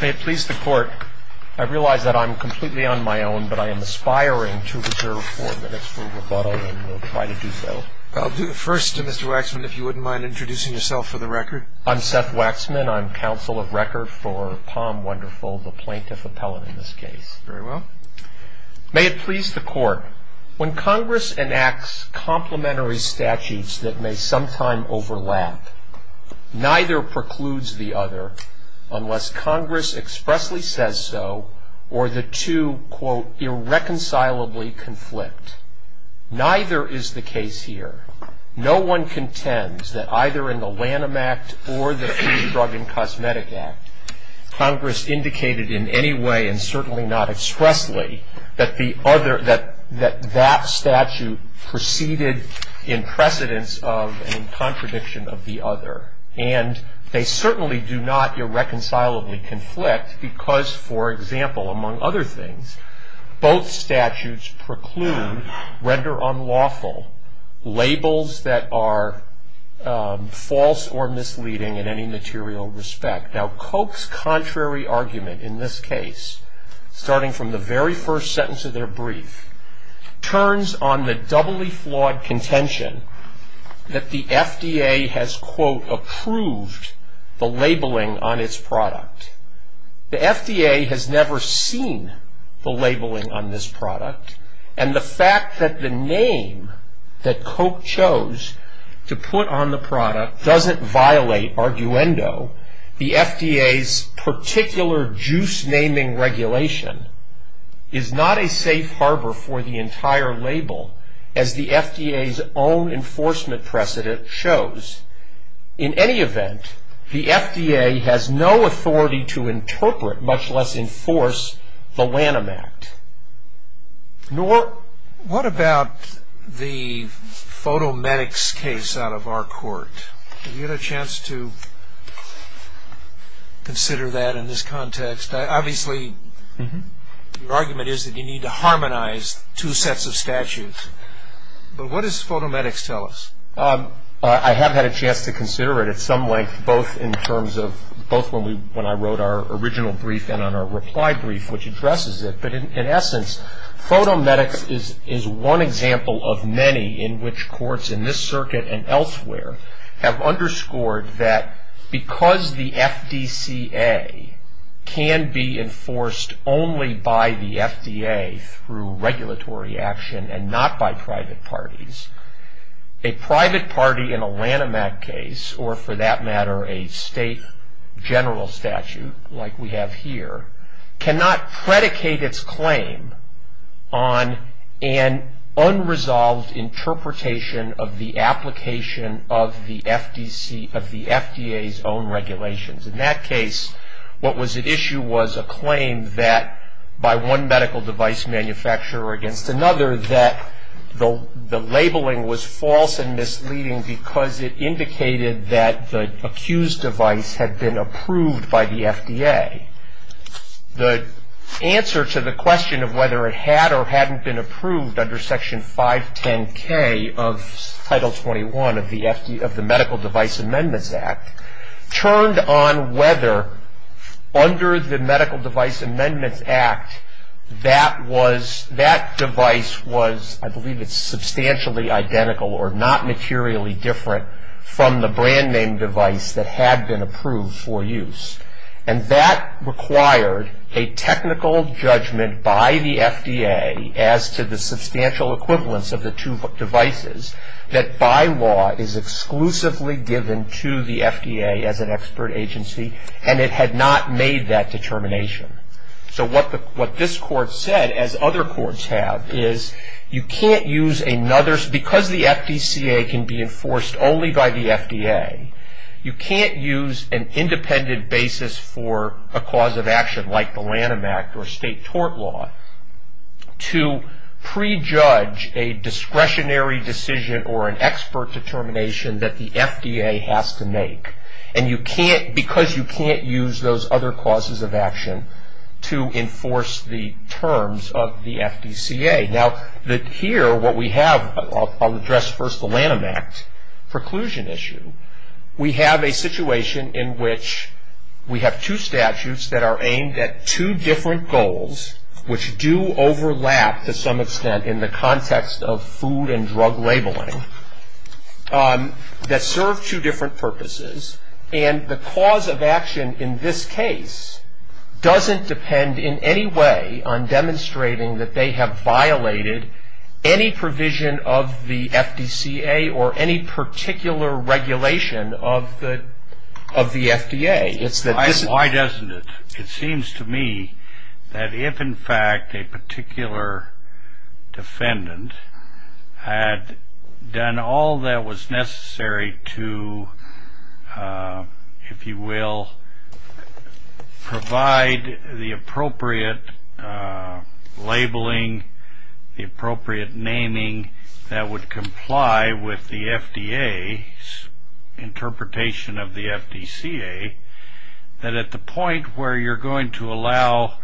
May it please the court, I realize that I'm completely on my own but I am aspiring to reserve four minutes for rebuttal and will try to do so. I'll do the first, Mr. Waxman, if you wouldn't mind introducing yourself for the record. I'm Seth Waxman. I'm counsel of record for POM Wonderful, the plaintiff appellate in this case. Very well. May it please the court, when Congress enacts complementary statutes that may sometime overlap, neither precludes the other unless Congress expressly says so or the two, quote, irreconcilably conflict. Neither is the case here. No one contends that either in the Lanham Act or the Free Drug and Cosmetic Act, Congress indicated in any way and certainly not expressly that the other, that that statute preceded in precedence of and in contradiction of the other. And they certainly do not irreconcilably conflict because, for example, among other things, both statutes preclude, render unlawful, labels that are false or misleading in any material respect. Now, Cope's contrary argument in this case, starting from the very first sentence of their brief, turns on the doubly flawed contention that the FDA has, quote, approved the labeling on its product. The FDA has never seen the labeling on this product, and the fact that the name that Cope chose to put on the product doesn't violate arguendo. The FDA's particular juice-naming regulation is not a safe harbor for the entire label, as the FDA's own enforcement precedent shows. In any event, the FDA has no authority to interpret, much less enforce, the Lanham Act. What about the photomedics case out of our court? Have you had a chance to consider that in this context? Obviously, your argument is that you need to harmonize two sets of statutes. But what does photomedics tell us? I have had a chance to consider it at some length, both when I wrote our original brief and on our reply brief, which addresses it. But in essence, photomedics is one example of many in which courts in this circuit and elsewhere have underscored that because the FDCA can be enforced only by the FDA through regulatory action and not by private parties, a private party in a Lanham Act case, or for that matter a state general statute like we have here, cannot predicate its claim on an unresolved interpretation of the application of the FDA's own regulations. In that case, what was at issue was a claim that by one medical device manufacturer against another that the labeling was false and misleading because it indicated that the accused device had been approved by the FDA. The answer to the question of whether it had or hadn't been approved under Section 510K of Title 21 of the Medical Device Amendments Act turned on whether under the Medical Device Amendments Act that device was, I believe it's substantially identical or not materially different from the brand name device that had been approved for use. And that required a technical judgment by the FDA as to the substantial equivalence of the two devices that by law is exclusively given to the FDA as an expert agency, and it had not made that determination. So what this court said, as other courts have, is you can't use another, because the FDCA can be enforced only by the FDA, you can't use an independent basis for a cause of action like the Lanham Act or state tort law to prejudge a discretionary decision or an expert determination that the FDA has to make. And you can't, because you can't use those other causes of action to enforce the terms of the FDCA. Now, here what we have, I'll address first the Lanham Act preclusion issue. We have a situation in which we have two statutes that are aimed at two different goals, which do overlap to some extent in the context of food and drug labeling, that serve two different purposes, and the cause of action in this case doesn't depend in any way on demonstrating that they have violated any provision of the FDCA or any particular regulation of the FDA. Why doesn't it? It seems to me that if, in fact, a particular defendant had done all that was necessary to, if you will, provide the appropriate labeling, the appropriate naming that would comply with the FDA's interpretation of the FDCA, that at the point where you're going to allow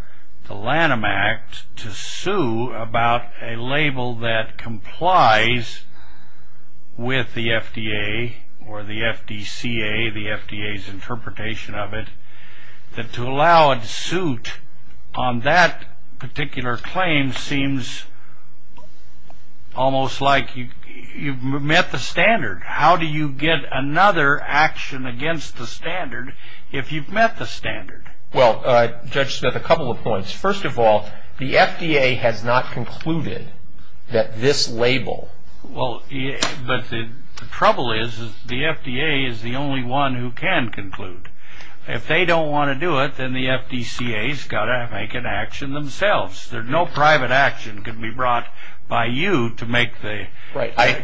the Lanham Act to sue about a label that complies with the FDA or the FDCA, the FDA's interpretation of it, that to allow it to suit on that particular claim seems almost like you've met the standard. How do you get another action against the standard if you've met the standard? Well, Judge Smith, a couple of points. First of all, the FDA has not concluded that this label. Well, but the trouble is the FDA is the only one who can conclude. If they don't want to do it, then the FDCA's got to make an action themselves. No private action can be brought by you to make the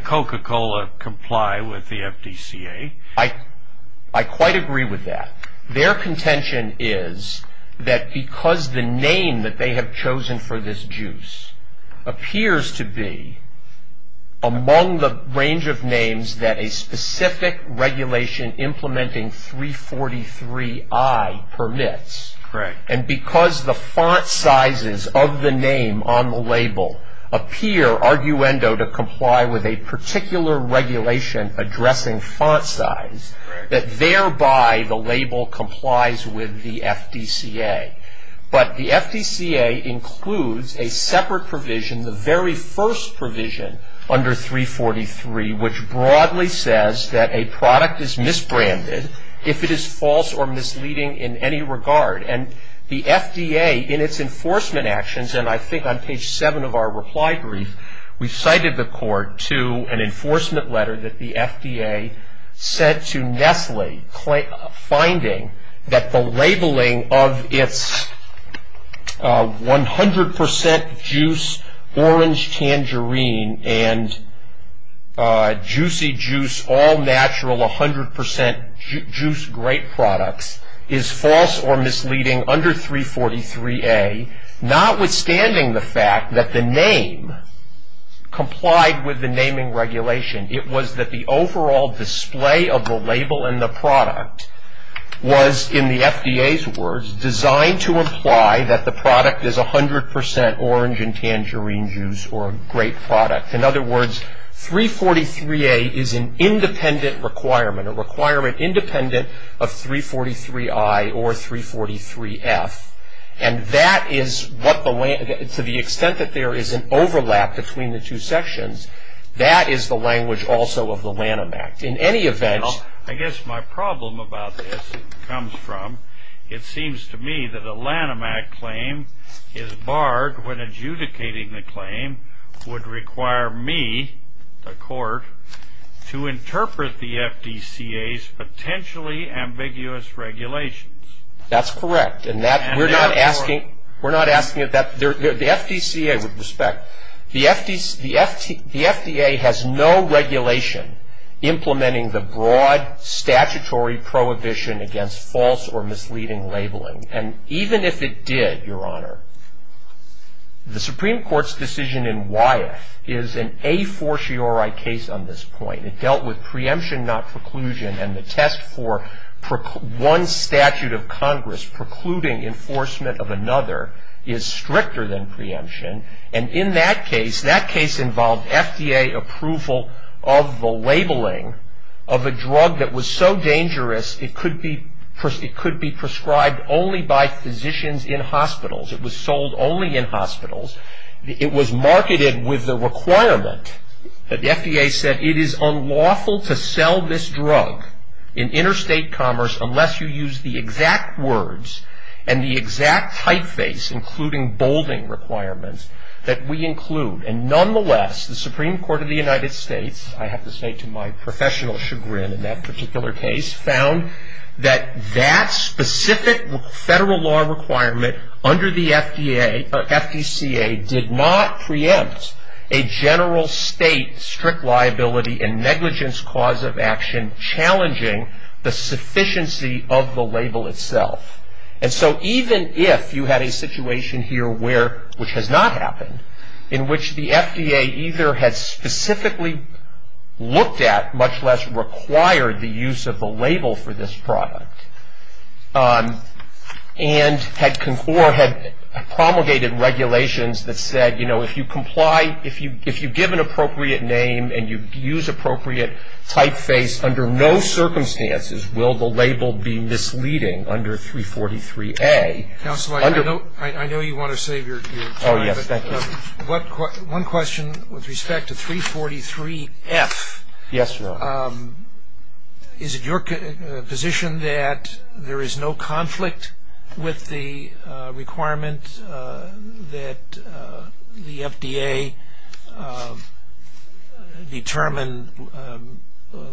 Coca-Cola comply with the FDCA. I quite agree with that. Their contention is that because the name that they have chosen for this juice appears to be among the range of names that a specific regulation implementing 343I permits, and because the font sizes of the name on the label appear, to comply with a particular regulation addressing font size, that thereby the label complies with the FDCA. But the FDCA includes a separate provision, the very first provision under 343, which broadly says that a product is misbranded if it is false or misleading in any regard. And the FDA, in its enforcement actions, and I think on page 7 of our reply brief, we cited the court to an enforcement letter that the FDA sent to Nestle, finding that the labeling of its 100 percent juice orange tangerine and juicy juice, all natural 100 percent juice grape products, is false or misleading under 343A, notwithstanding the fact that the name complied with the naming regulation. It was that the overall display of the label and the product was, in the FDA's words, designed to imply that the product is 100 percent orange and tangerine juice or grape product. In other words, 343A is an independent requirement, a requirement independent of 343I or 343F. And that is what the, to the extent that there is an overlap between the two sections, that is the language also of the Lanham Act. In any event, I guess my problem about this comes from it seems to me that a Lanham Act claim is barred when adjudicating the claim would require me, the court, to interpret the FDCA's potentially ambiguous regulations. That's correct. And that, we're not asking, we're not asking that, the FDCA, with respect, the FDA has no regulation implementing the broad statutory prohibition against false or misleading labeling. And even if it did, Your Honor, the Supreme Court's decision in Wyeth is an a fortiori case on this point. It dealt with preemption, not preclusion. And the test for one statute of Congress precluding enforcement of another is stricter than preemption. And in that case, that case involved FDA approval of the labeling of a drug that was so dangerous it could be prescribed only by physicians in hospitals. It was sold only in hospitals. It was marketed with the requirement that the FDA said, it is unlawful to sell this drug in interstate commerce unless you use the exact words and the exact typeface, including bolding requirements, that we include. And nonetheless, the Supreme Court of the United States, I have to say to my professional chagrin in that particular case, found that that specific federal law requirement under the FDA, or FDCA, did not preempt a general state strict liability and negligence cause of action challenging the sufficiency of the label itself. And so even if you had a situation here where, which has not happened, in which the FDA either has specifically looked at, much less required the use of the label for this product, and had promulgated regulations that said, you know, if you comply, if you give an appropriate name and you use appropriate typeface, under no circumstances will the label be misleading under 343A. Counsel, I know you want to save your time. Oh, yes, thank you. One question with respect to 343F. Yes, Your Honor. Is it your position that there is no conflict with the requirement that the FDA determine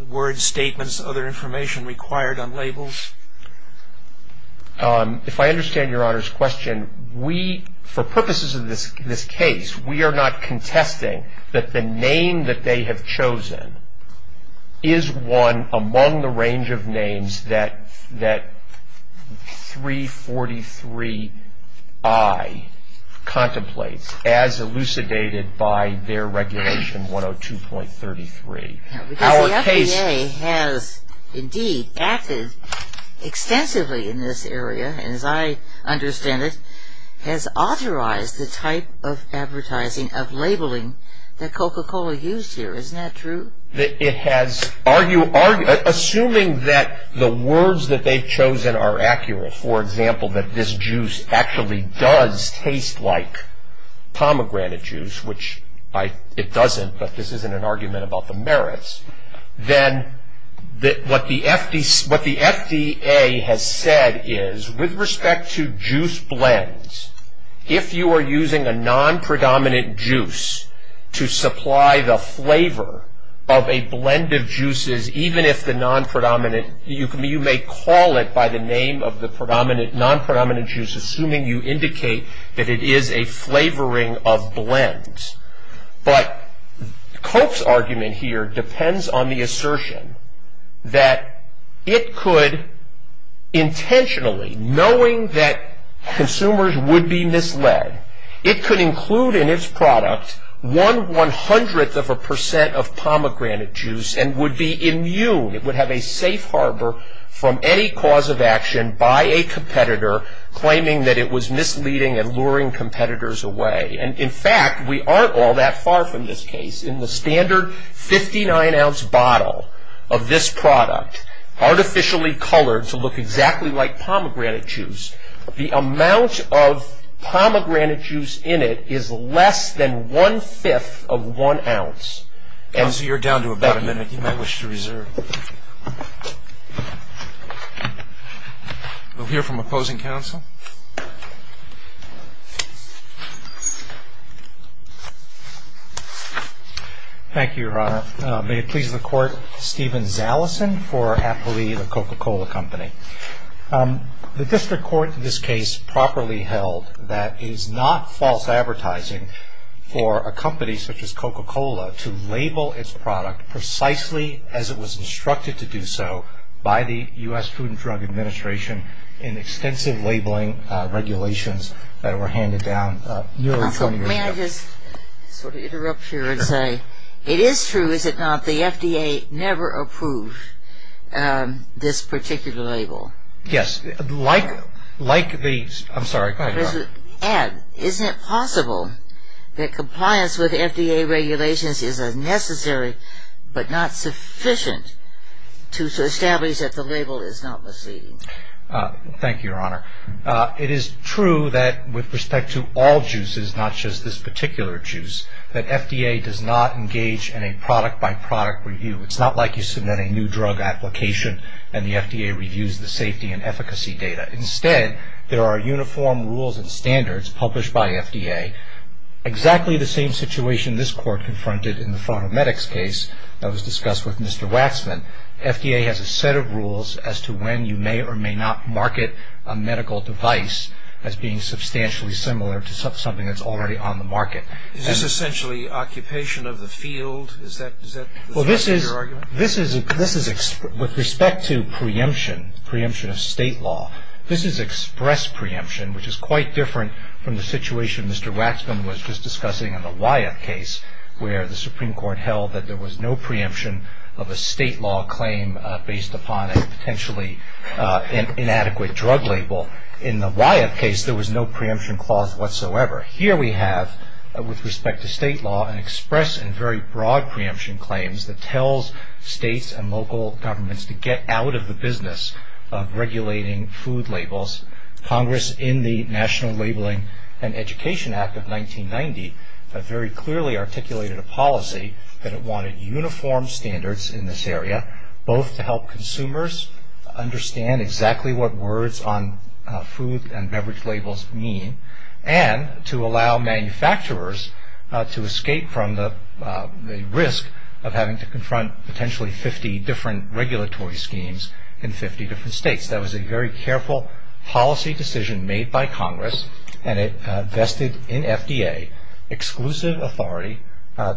words, statements, other information required on labels? If I understand Your Honor's question, we, for purposes of this case, we are not contesting that the name that they have chosen is one among the range of names that 343I contemplates as elucidated by their regulation 102.33. Because the FDA has indeed acted extensively in this area, and as I understand it, has authorized the type of advertising of labeling that Coca-Cola used here. Isn't that true? It has, assuming that the words that they've chosen are accurate, for example, that this juice actually does taste like pomegranate juice, which it doesn't, but this isn't an argument about the merits, then what the FDA has said is with respect to juice blends, if you are using a non-predominant juice to supply the flavor of a blend of juices, even if the non-predominant, you may call it by the name of the non-predominant juice, assuming you indicate that it is a flavoring of blends. But Coke's argument here depends on the assertion that it could intentionally, knowing that consumers would be misled, it could include in its product one one-hundredth of a percent of pomegranate juice and would be immune, it would have a safe harbor from any cause of action by a competitor claiming that it was misleading and luring competitors away. And in fact, we aren't all that far from this case. In the standard 59-ounce bottle of this product, artificially colored to look exactly like pomegranate juice, the amount of pomegranate juice in it is less than one-fifth of one ounce. Counsel, you're down to about a minute. You may wish to reserve. We'll hear from opposing counsel. Thank you, Your Honor. May it please the Court, Stephen Zaleson for Appali, the Coca-Cola Company. The district court in this case properly held that it is not false advertising for a company such as Coca-Cola to label its product precisely as it was instructed to do so by the U.S. Food and Drug Administration in extensive labeling regulations that were handed down nearly 20 years ago. May I just sort of interrupt here and say, it is true, is it not, the FDA never approved this particular label? Yes. Like the, I'm sorry, go ahead, Your Honor. And to add, isn't it possible that compliance with FDA regulations is necessary but not sufficient to establish that the label is not misleading? Thank you, Your Honor. It is true that with respect to all juices, not just this particular juice, that FDA does not engage in a product-by-product review. It's not like you submit a new drug application and the FDA reviews the safety and efficacy data. Instead, there are uniform rules and standards published by FDA, exactly the same situation this Court confronted in the Pharmamedics case that was discussed with Mr. Waxman. FDA has a set of rules as to when you may or may not market a medical device as being substantially similar to something that's already on the market. Is this essentially occupation of the field? Is that your argument? This is, with respect to preemption, preemption of state law, this is express preemption, which is quite different from the situation Mr. Waxman was just discussing in the Wyeth case, where the Supreme Court held that there was no preemption of a state law claim based upon a potentially inadequate drug label. In the Wyeth case, there was no preemption clause whatsoever. Here we have, with respect to state law, an express and very broad preemption claims that tells states and local governments to get out of the business of regulating food labels. Congress, in the National Labeling and Education Act of 1990, very clearly articulated a policy that it wanted uniform standards in this area, both to help consumers understand exactly what words on food and beverage labels mean, and to allow manufacturers to escape from the risk of having to confront potentially 50 different regulatory schemes in 50 different states. That was a very careful policy decision made by Congress, and it vested in FDA exclusive authority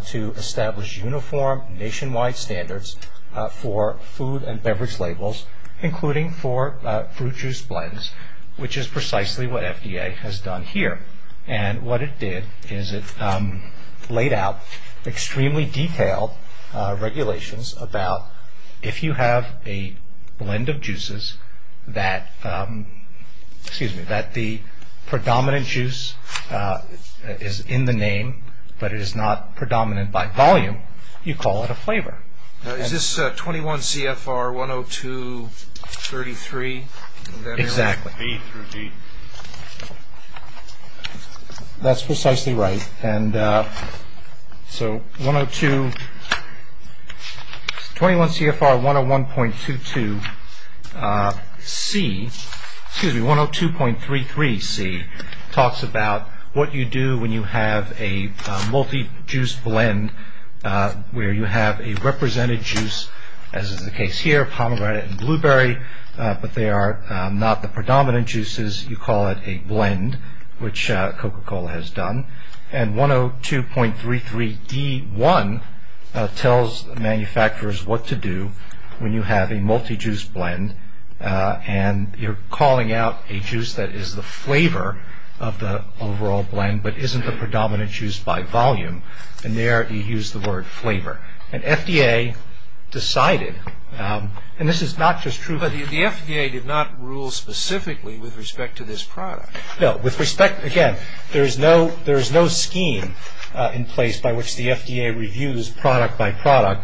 to establish uniform nationwide standards for food and beverage labels, including for fruit juice blends, which is precisely what FDA has done here. And what it did is it laid out extremely detailed regulations about, if you have a blend of juices that the predominant juice is in the name, but it is not predominant by volume, you call it a flavor. Is this 21 CFR 102.33? Exactly. B through D. That's precisely right. And so 102, 21 CFR 101.22C, excuse me, 102.33C, talks about what you do when you have a multi-juice blend, where you have a represented juice, as is the case here, pomegranate and blueberry, but they are not the predominant juices, you call it a blend, which Coca-Cola has done. And 102.33D1 tells manufacturers what to do when you have a multi-juice blend, and you're calling out a juice that is the flavor of the overall blend, but isn't the predominant juice by volume, and there you use the word flavor. And FDA decided, and this is not just true. But the FDA did not rule specifically with respect to this product. No, with respect, again, there is no scheme in place by which the FDA reviews product by product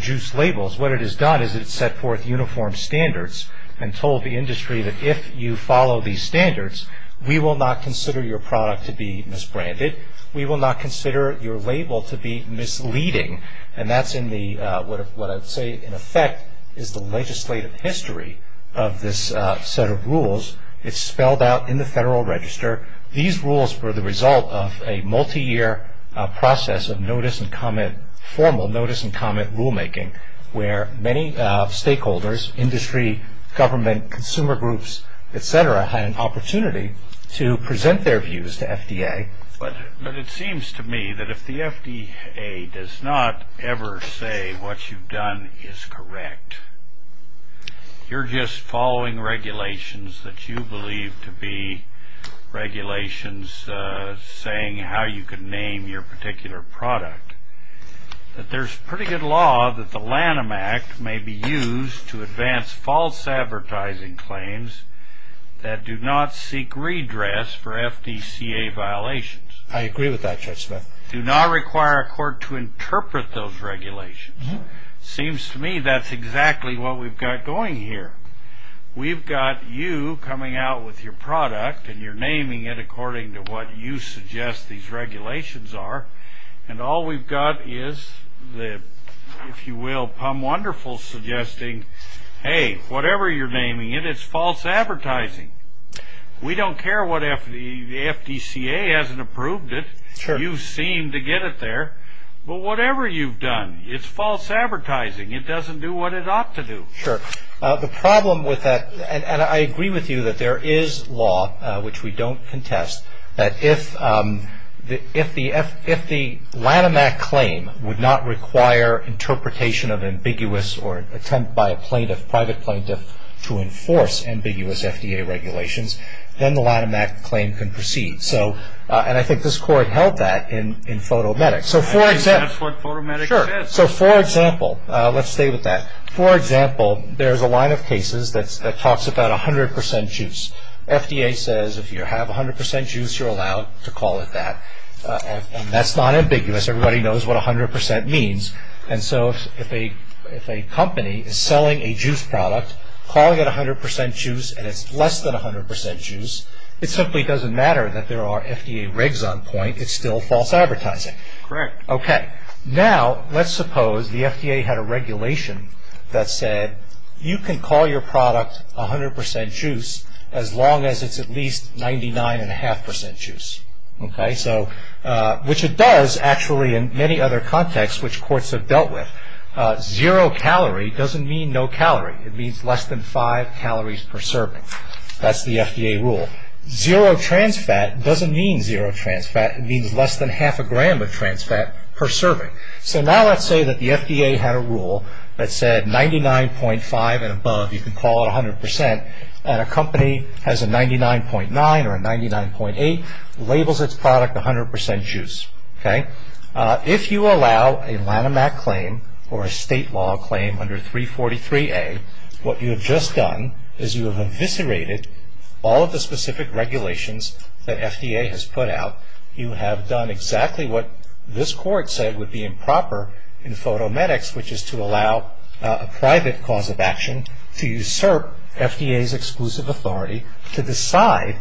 juice labels. What it has done is it has set forth uniform standards and told the industry that if you follow these standards, we will not consider your product to be misbranded. We will not consider your label to be misleading. And that's in the, what I would say in effect is the legislative history of this set of rules. It's spelled out in the Federal Register. These rules were the result of a multi-year process of notice and comment, where many stakeholders, industry, government, consumer groups, et cetera, had an opportunity to present their views to FDA. But it seems to me that if the FDA does not ever say what you've done is correct, you're just following regulations that you believe to be regulations saying how you can name your particular product. There's pretty good law that the Lanham Act may be used to advance false advertising claims that do not seek redress for FDCA violations. I agree with that, Judge Smith. Do not require a court to interpret those regulations. It seems to me that's exactly what we've got going here. We've got you coming out with your product, and you're naming it according to what you suggest these regulations are. And all we've got is the, if you will, PUM Wonderful suggesting, hey, whatever you're naming it, it's false advertising. We don't care what the FDCA hasn't approved it. You seem to get it there. But whatever you've done, it's false advertising. It doesn't do what it ought to do. Sure. The problem with that, and I agree with you that there is law, which we don't contest, that if the Lanham Act claim would not require interpretation of ambiguous or attempt by a plaintiff, private plaintiff, to enforce ambiguous FDA regulations, then the Lanham Act claim can proceed. And I think this court held that in photomedics. I think that's what photomedics is. Sure. So, for example, let's stay with that. For example, there's a line of cases that talks about 100% juice. FDA says if you have 100% juice, you're allowed to call it that. And that's not ambiguous. Everybody knows what 100% means. And so if a company is selling a juice product, calling it 100% juice, and it's less than 100% juice, it simply doesn't matter that there are FDA regs on point. It's still false advertising. Correct. Okay. Now, let's suppose the FDA had a regulation that said you can call your product 100% juice as long as it's at least 99.5% juice, which it does, actually, in many other contexts, which courts have dealt with. Zero calorie doesn't mean no calorie. It means less than five calories per serving. That's the FDA rule. Zero trans fat doesn't mean zero trans fat. It means less than half a gram of trans fat per serving. So now let's say that the FDA had a rule that said 99.5 and above, you can call it 100%, and a company has a 99.9 or a 99.8, labels its product 100% juice. Okay. If you allow a Lanham Act claim or a state law claim under 343A, what you have just done is you have eviscerated all of the specific regulations that FDA has put out. You have done exactly what this court said would be improper in photomedics, which is to allow a private cause of action to usurp FDA's exclusive authority to decide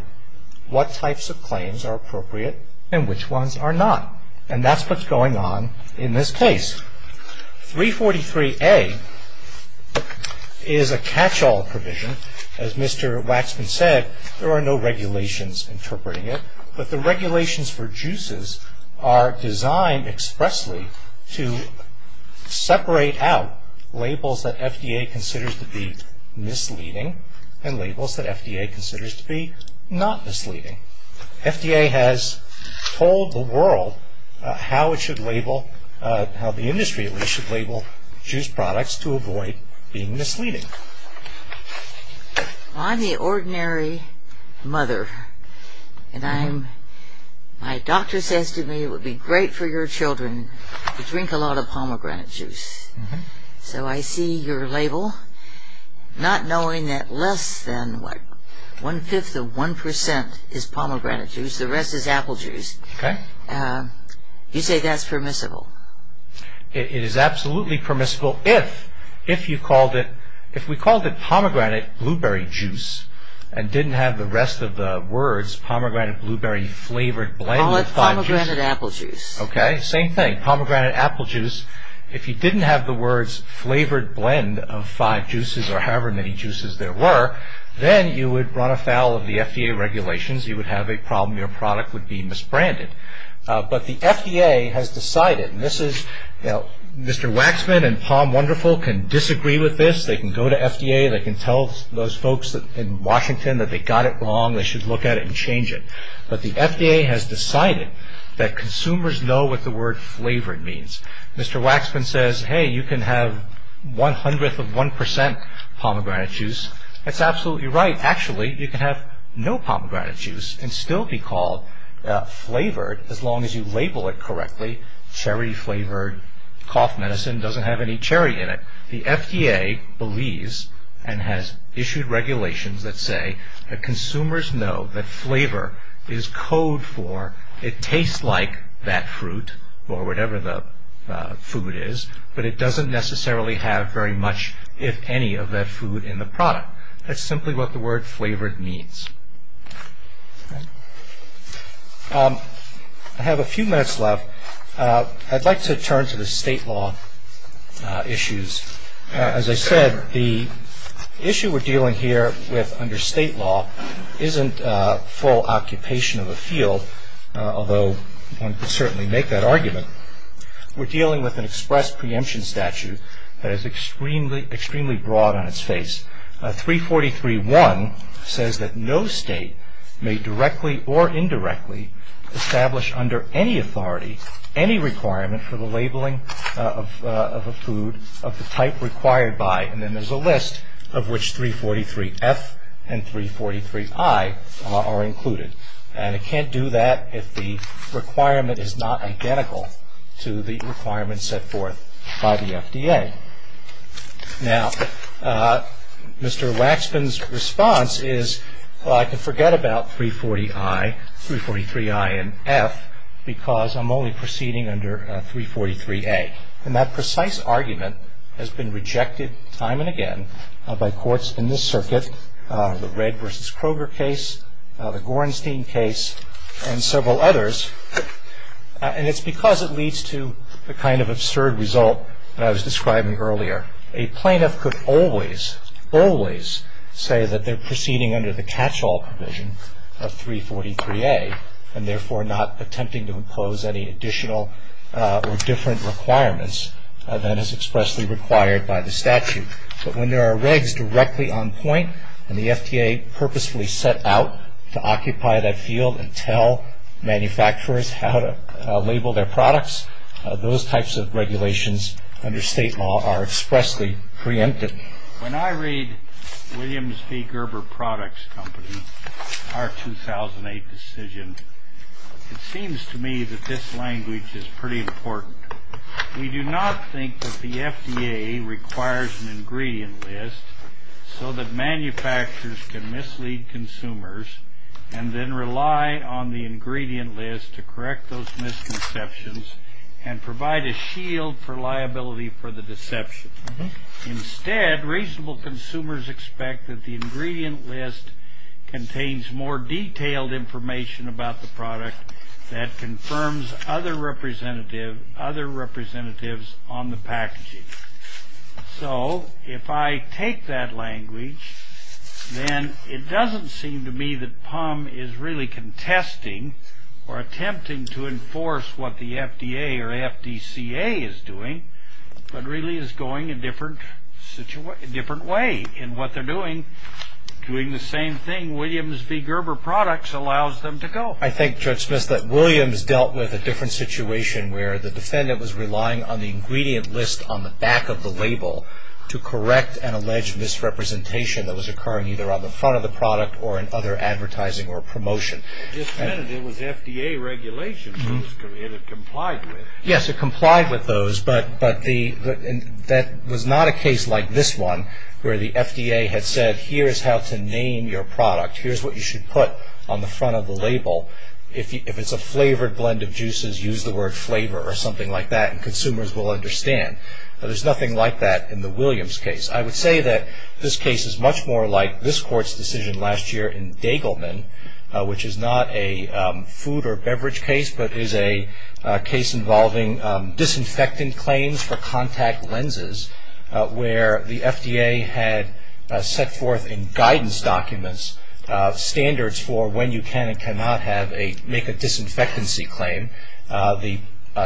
what types of claims are appropriate and which ones are not. And that's what's going on in this case. 343A is a catch-all provision. As Mr. Waxman said, there are no regulations interpreting it, but the regulations for juices are designed expressly to separate out labels that FDA considers to be misleading and labels that FDA considers to be not misleading. FDA has told the world how it should label, how the industry should label juice products to avoid being misleading. I'm the ordinary mother, and my doctor says to me, it would be great for your children to drink a lot of pomegranate juice. So I see your label, not knowing that less than one-fifth of one percent is pomegranate juice, the rest is apple juice. Okay. You say that's permissible. It is absolutely permissible if you called it, if we called it pomegranate blueberry juice and didn't have the rest of the words pomegranate, blueberry, flavored blended juice. Call it pomegranate apple juice. Okay, same thing, pomegranate apple juice. If you didn't have the words flavored blend of five juices or however many juices there were, then you would run afoul of the FDA regulations. You would have a problem. Your product would be misbranded. But the FDA has decided, and this is, you know, Mr. Waxman and Palm Wonderful can disagree with this. They can go to FDA. They can tell those folks in Washington that they got it wrong. They should look at it and change it. But the FDA has decided that consumers know what the word flavored means. Mr. Waxman says, hey, you can have one hundredth of one percent pomegranate juice. That's absolutely right. Actually, you can have no pomegranate juice and still be called flavored as long as you label it correctly. Cherry flavored cough medicine doesn't have any cherry in it. The FDA believes and has issued regulations that say that consumers know that flavor is code for It tastes like that fruit or whatever the food is, but it doesn't necessarily have very much, if any, of that food in the product. That's simply what the word flavored means. I have a few minutes left. I'd like to turn to the state law issues. As I said, the issue we're dealing here with under state law isn't full occupation of a field, although one could certainly make that argument. We're dealing with an express preemption statute that is extremely broad on its face. 343.1 says that no state may directly or indirectly establish under any authority any requirement for the labeling of a food of the type required by, and then there's a list of which 343F and 343I are included. And it can't do that if the requirement is not identical to the requirements set forth by the FDA. Now, Mr. Waxman's response is, well, I can forget about 343I and F because I'm only proceeding under 343A. And that precise argument has been rejected time and again by courts in this circuit, the Red v. Kroger case, the Gorenstein case, and several others, and it's because it leads to the kind of absurd result that I was describing earlier. A plaintiff could always, always say that they're proceeding under the catch-all provision of 343A and therefore not attempting to impose any additional or different requirements than is expressly required by the statute. But when there are regs directly on point and the FDA purposefully set out to occupy that field and tell manufacturers how to label their products, those types of regulations under state law are expressly preempted. When I read Williams v. Gerber Products Company, our 2008 decision, it seems to me that this language is pretty important. We do not think that the FDA requires an ingredient list so that manufacturers can mislead consumers and then rely on the ingredient list to correct those misconceptions and provide a shield for liability for the deception. Instead, reasonable consumers expect that the ingredient list contains more detailed information about the product that confirms other representatives on the packaging. So if I take that language, then it doesn't seem to me that PUM is really contesting or attempting to enforce what the FDA or FDCA is doing, but really is going a different way in what they're doing. Doing the same thing, Williams v. Gerber Products allows them to go. I think, Judge Smith, that Williams dealt with a different situation where the defendant was relying on the ingredient list on the back of the label to correct an alleged misrepresentation that was occurring either on the front of the product or in other advertising or promotion. It was FDA regulation that it complied with. Yes, it complied with those, but that was not a case like this one where the FDA had said, here is how to name your product. Here's what you should put on the front of the label. If it's a flavored blend of juices, use the word flavor or something like that, and consumers will understand. There's nothing like that in the Williams case. I would say that this case is much more like this Court's decision last year in Daigleman, which is not a food or beverage case, but is a case involving disinfectant claims for contact lenses where the FDA had set forth in guidance documents standards for when you can and cannot make a disinfectancy claim. The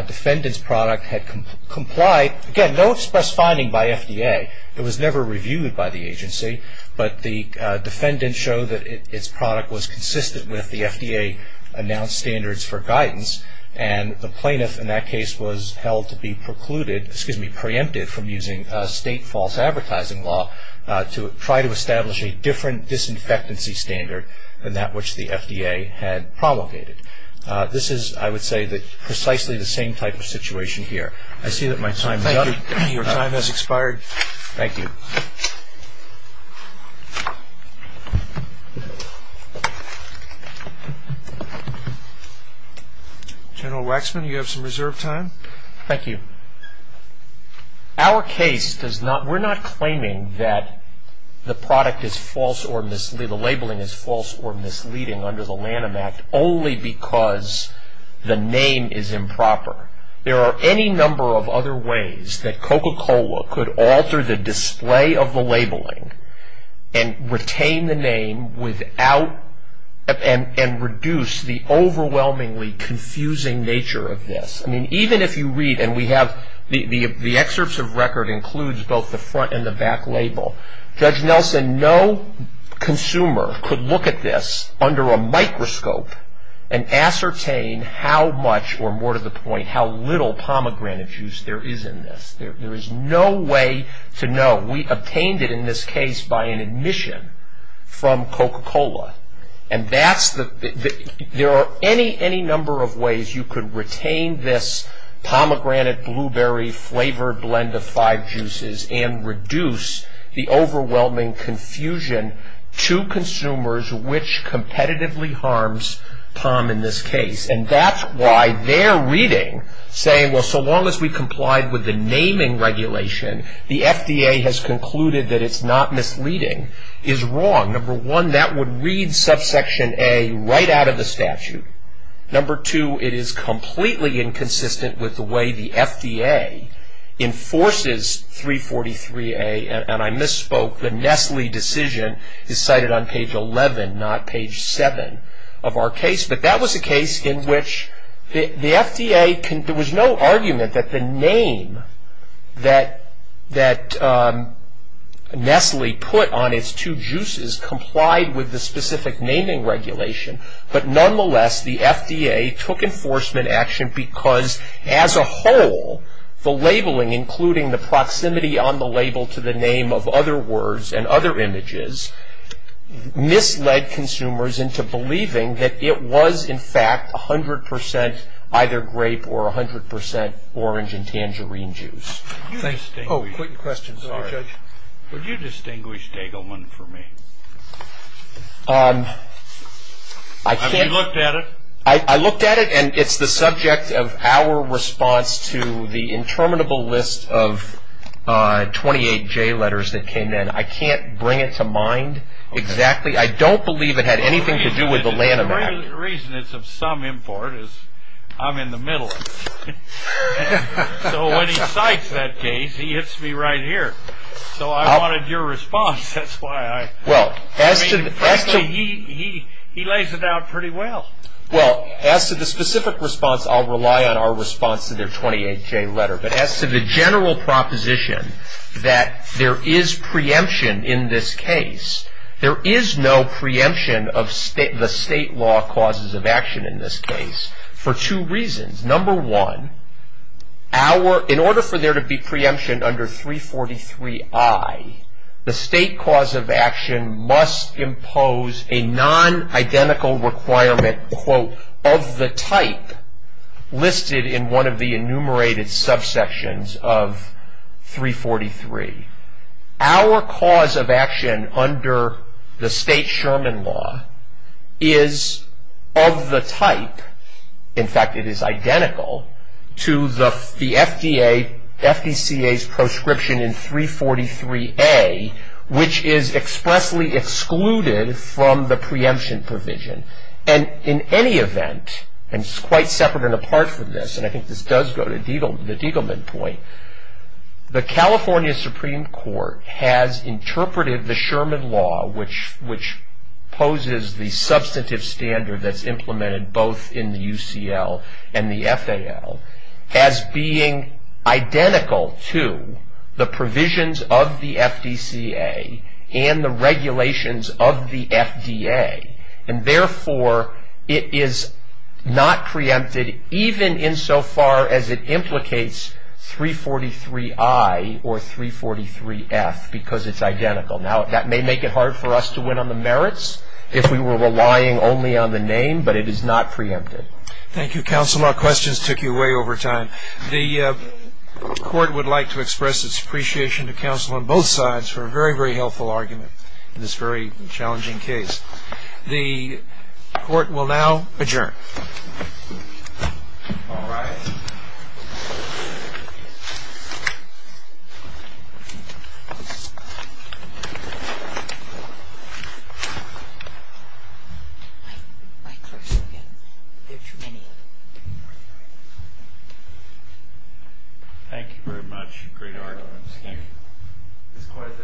defendant's product had complied. Again, no press finding by FDA. It was never reviewed by the agency, but the defendant showed that its product was consistent with the FDA-announced standards for guidance, and the plaintiff in that case was held to be precluded, excuse me, preempted from using state false advertising law to try to establish a different disinfectancy standard than that which the FDA had promulgated. This is, I would say, precisely the same type of situation here. I see that my time is up. Your time has expired. Thank you. General Waxman, you have some reserved time. Thank you. Our case does not, we're not claiming that the product is false or, the labeling is false or misleading under the Lanham Act only because the name is improper. There are any number of other ways that Coca-Cola could alter the display of the labeling and retain the name without, and reduce the overwhelmingly confusing nature of this. I mean, even if you read, and we have, the excerpts of record includes both the front and the back label. Judge Nelson, no consumer could look at this under a microscope and ascertain how much, or more to the point, how little pomegranate juice there is in this. There is no way to know. We obtained it in this case by an admission from Coca-Cola. And that's the, there are any number of ways you could retain this pomegranate, blueberry flavored blend of five juices and reduce the overwhelming confusion to consumers which competitively harms POM in this case. And that's why their reading, saying, well, so long as we complied with the naming regulation, the FDA has concluded that it's not misleading, is wrong. Number one, that would read subsection A right out of the statute. Number two, it is completely inconsistent with the way the FDA enforces 343A, and I misspoke, the Nestle decision is cited on page 11, not page 7 of our case. But that was a case in which the FDA, there was no argument that the name that Nestle put on its two juices complied with the specific naming regulation. But nonetheless, the FDA took enforcement action because as a whole, the labeling, including the proximity on the label to the name of other words and other images, misled consumers into believing that it was, in fact, 100% either grape or 100% orange and tangerine juice. Oh, quick question, sorry. Would you distinguish Dagelman for me? Have you looked at it? I looked at it, and it's the subject of our response to the interminable list of 28J letters that came in. I can't bring it to mind exactly. I don't believe it had anything to do with the Lanham Act. The reason it's of some import is I'm in the middle. So when he cites that case, he hits me right here. So I wanted your response. Actually, he lays it out pretty well. Well, as to the specific response, I'll rely on our response to their 28J letter. But as to the general proposition that there is preemption in this case, there is no preemption of the state law causes of action in this case for two reasons. Number one, in order for there to be preemption under 343I, the state cause of action must impose a non-identical requirement, quote, of the type listed in one of the enumerated subsections of 343. Our cause of action under the state Sherman law is of the type, in fact it is identical, to the FDA, FDCA's prescription in 343A, which is expressly excluded from the preemption provision. And in any event, and quite separate and apart from this, and I think this does go to the Diegelman point, the California Supreme Court has interpreted the Sherman law, which poses the substantive standard that's implemented both in the UCL and the FAL, as being identical to the provisions of the FDCA and the regulations of the FDA. And therefore, it is not preempted even insofar as it implicates 343I or 343F, because it's identical. Now, that may make it hard for us to win on the merits if we were relying only on the name, but it is not preempted. Thank you, counsel. Our questions took you way over time. The court would like to express its appreciation to counsel on both sides for a very, very helpful argument in this very challenging case. The court will now adjourn. All rise. Thank you very much. Great arguments. Thank you. This court is adjourned.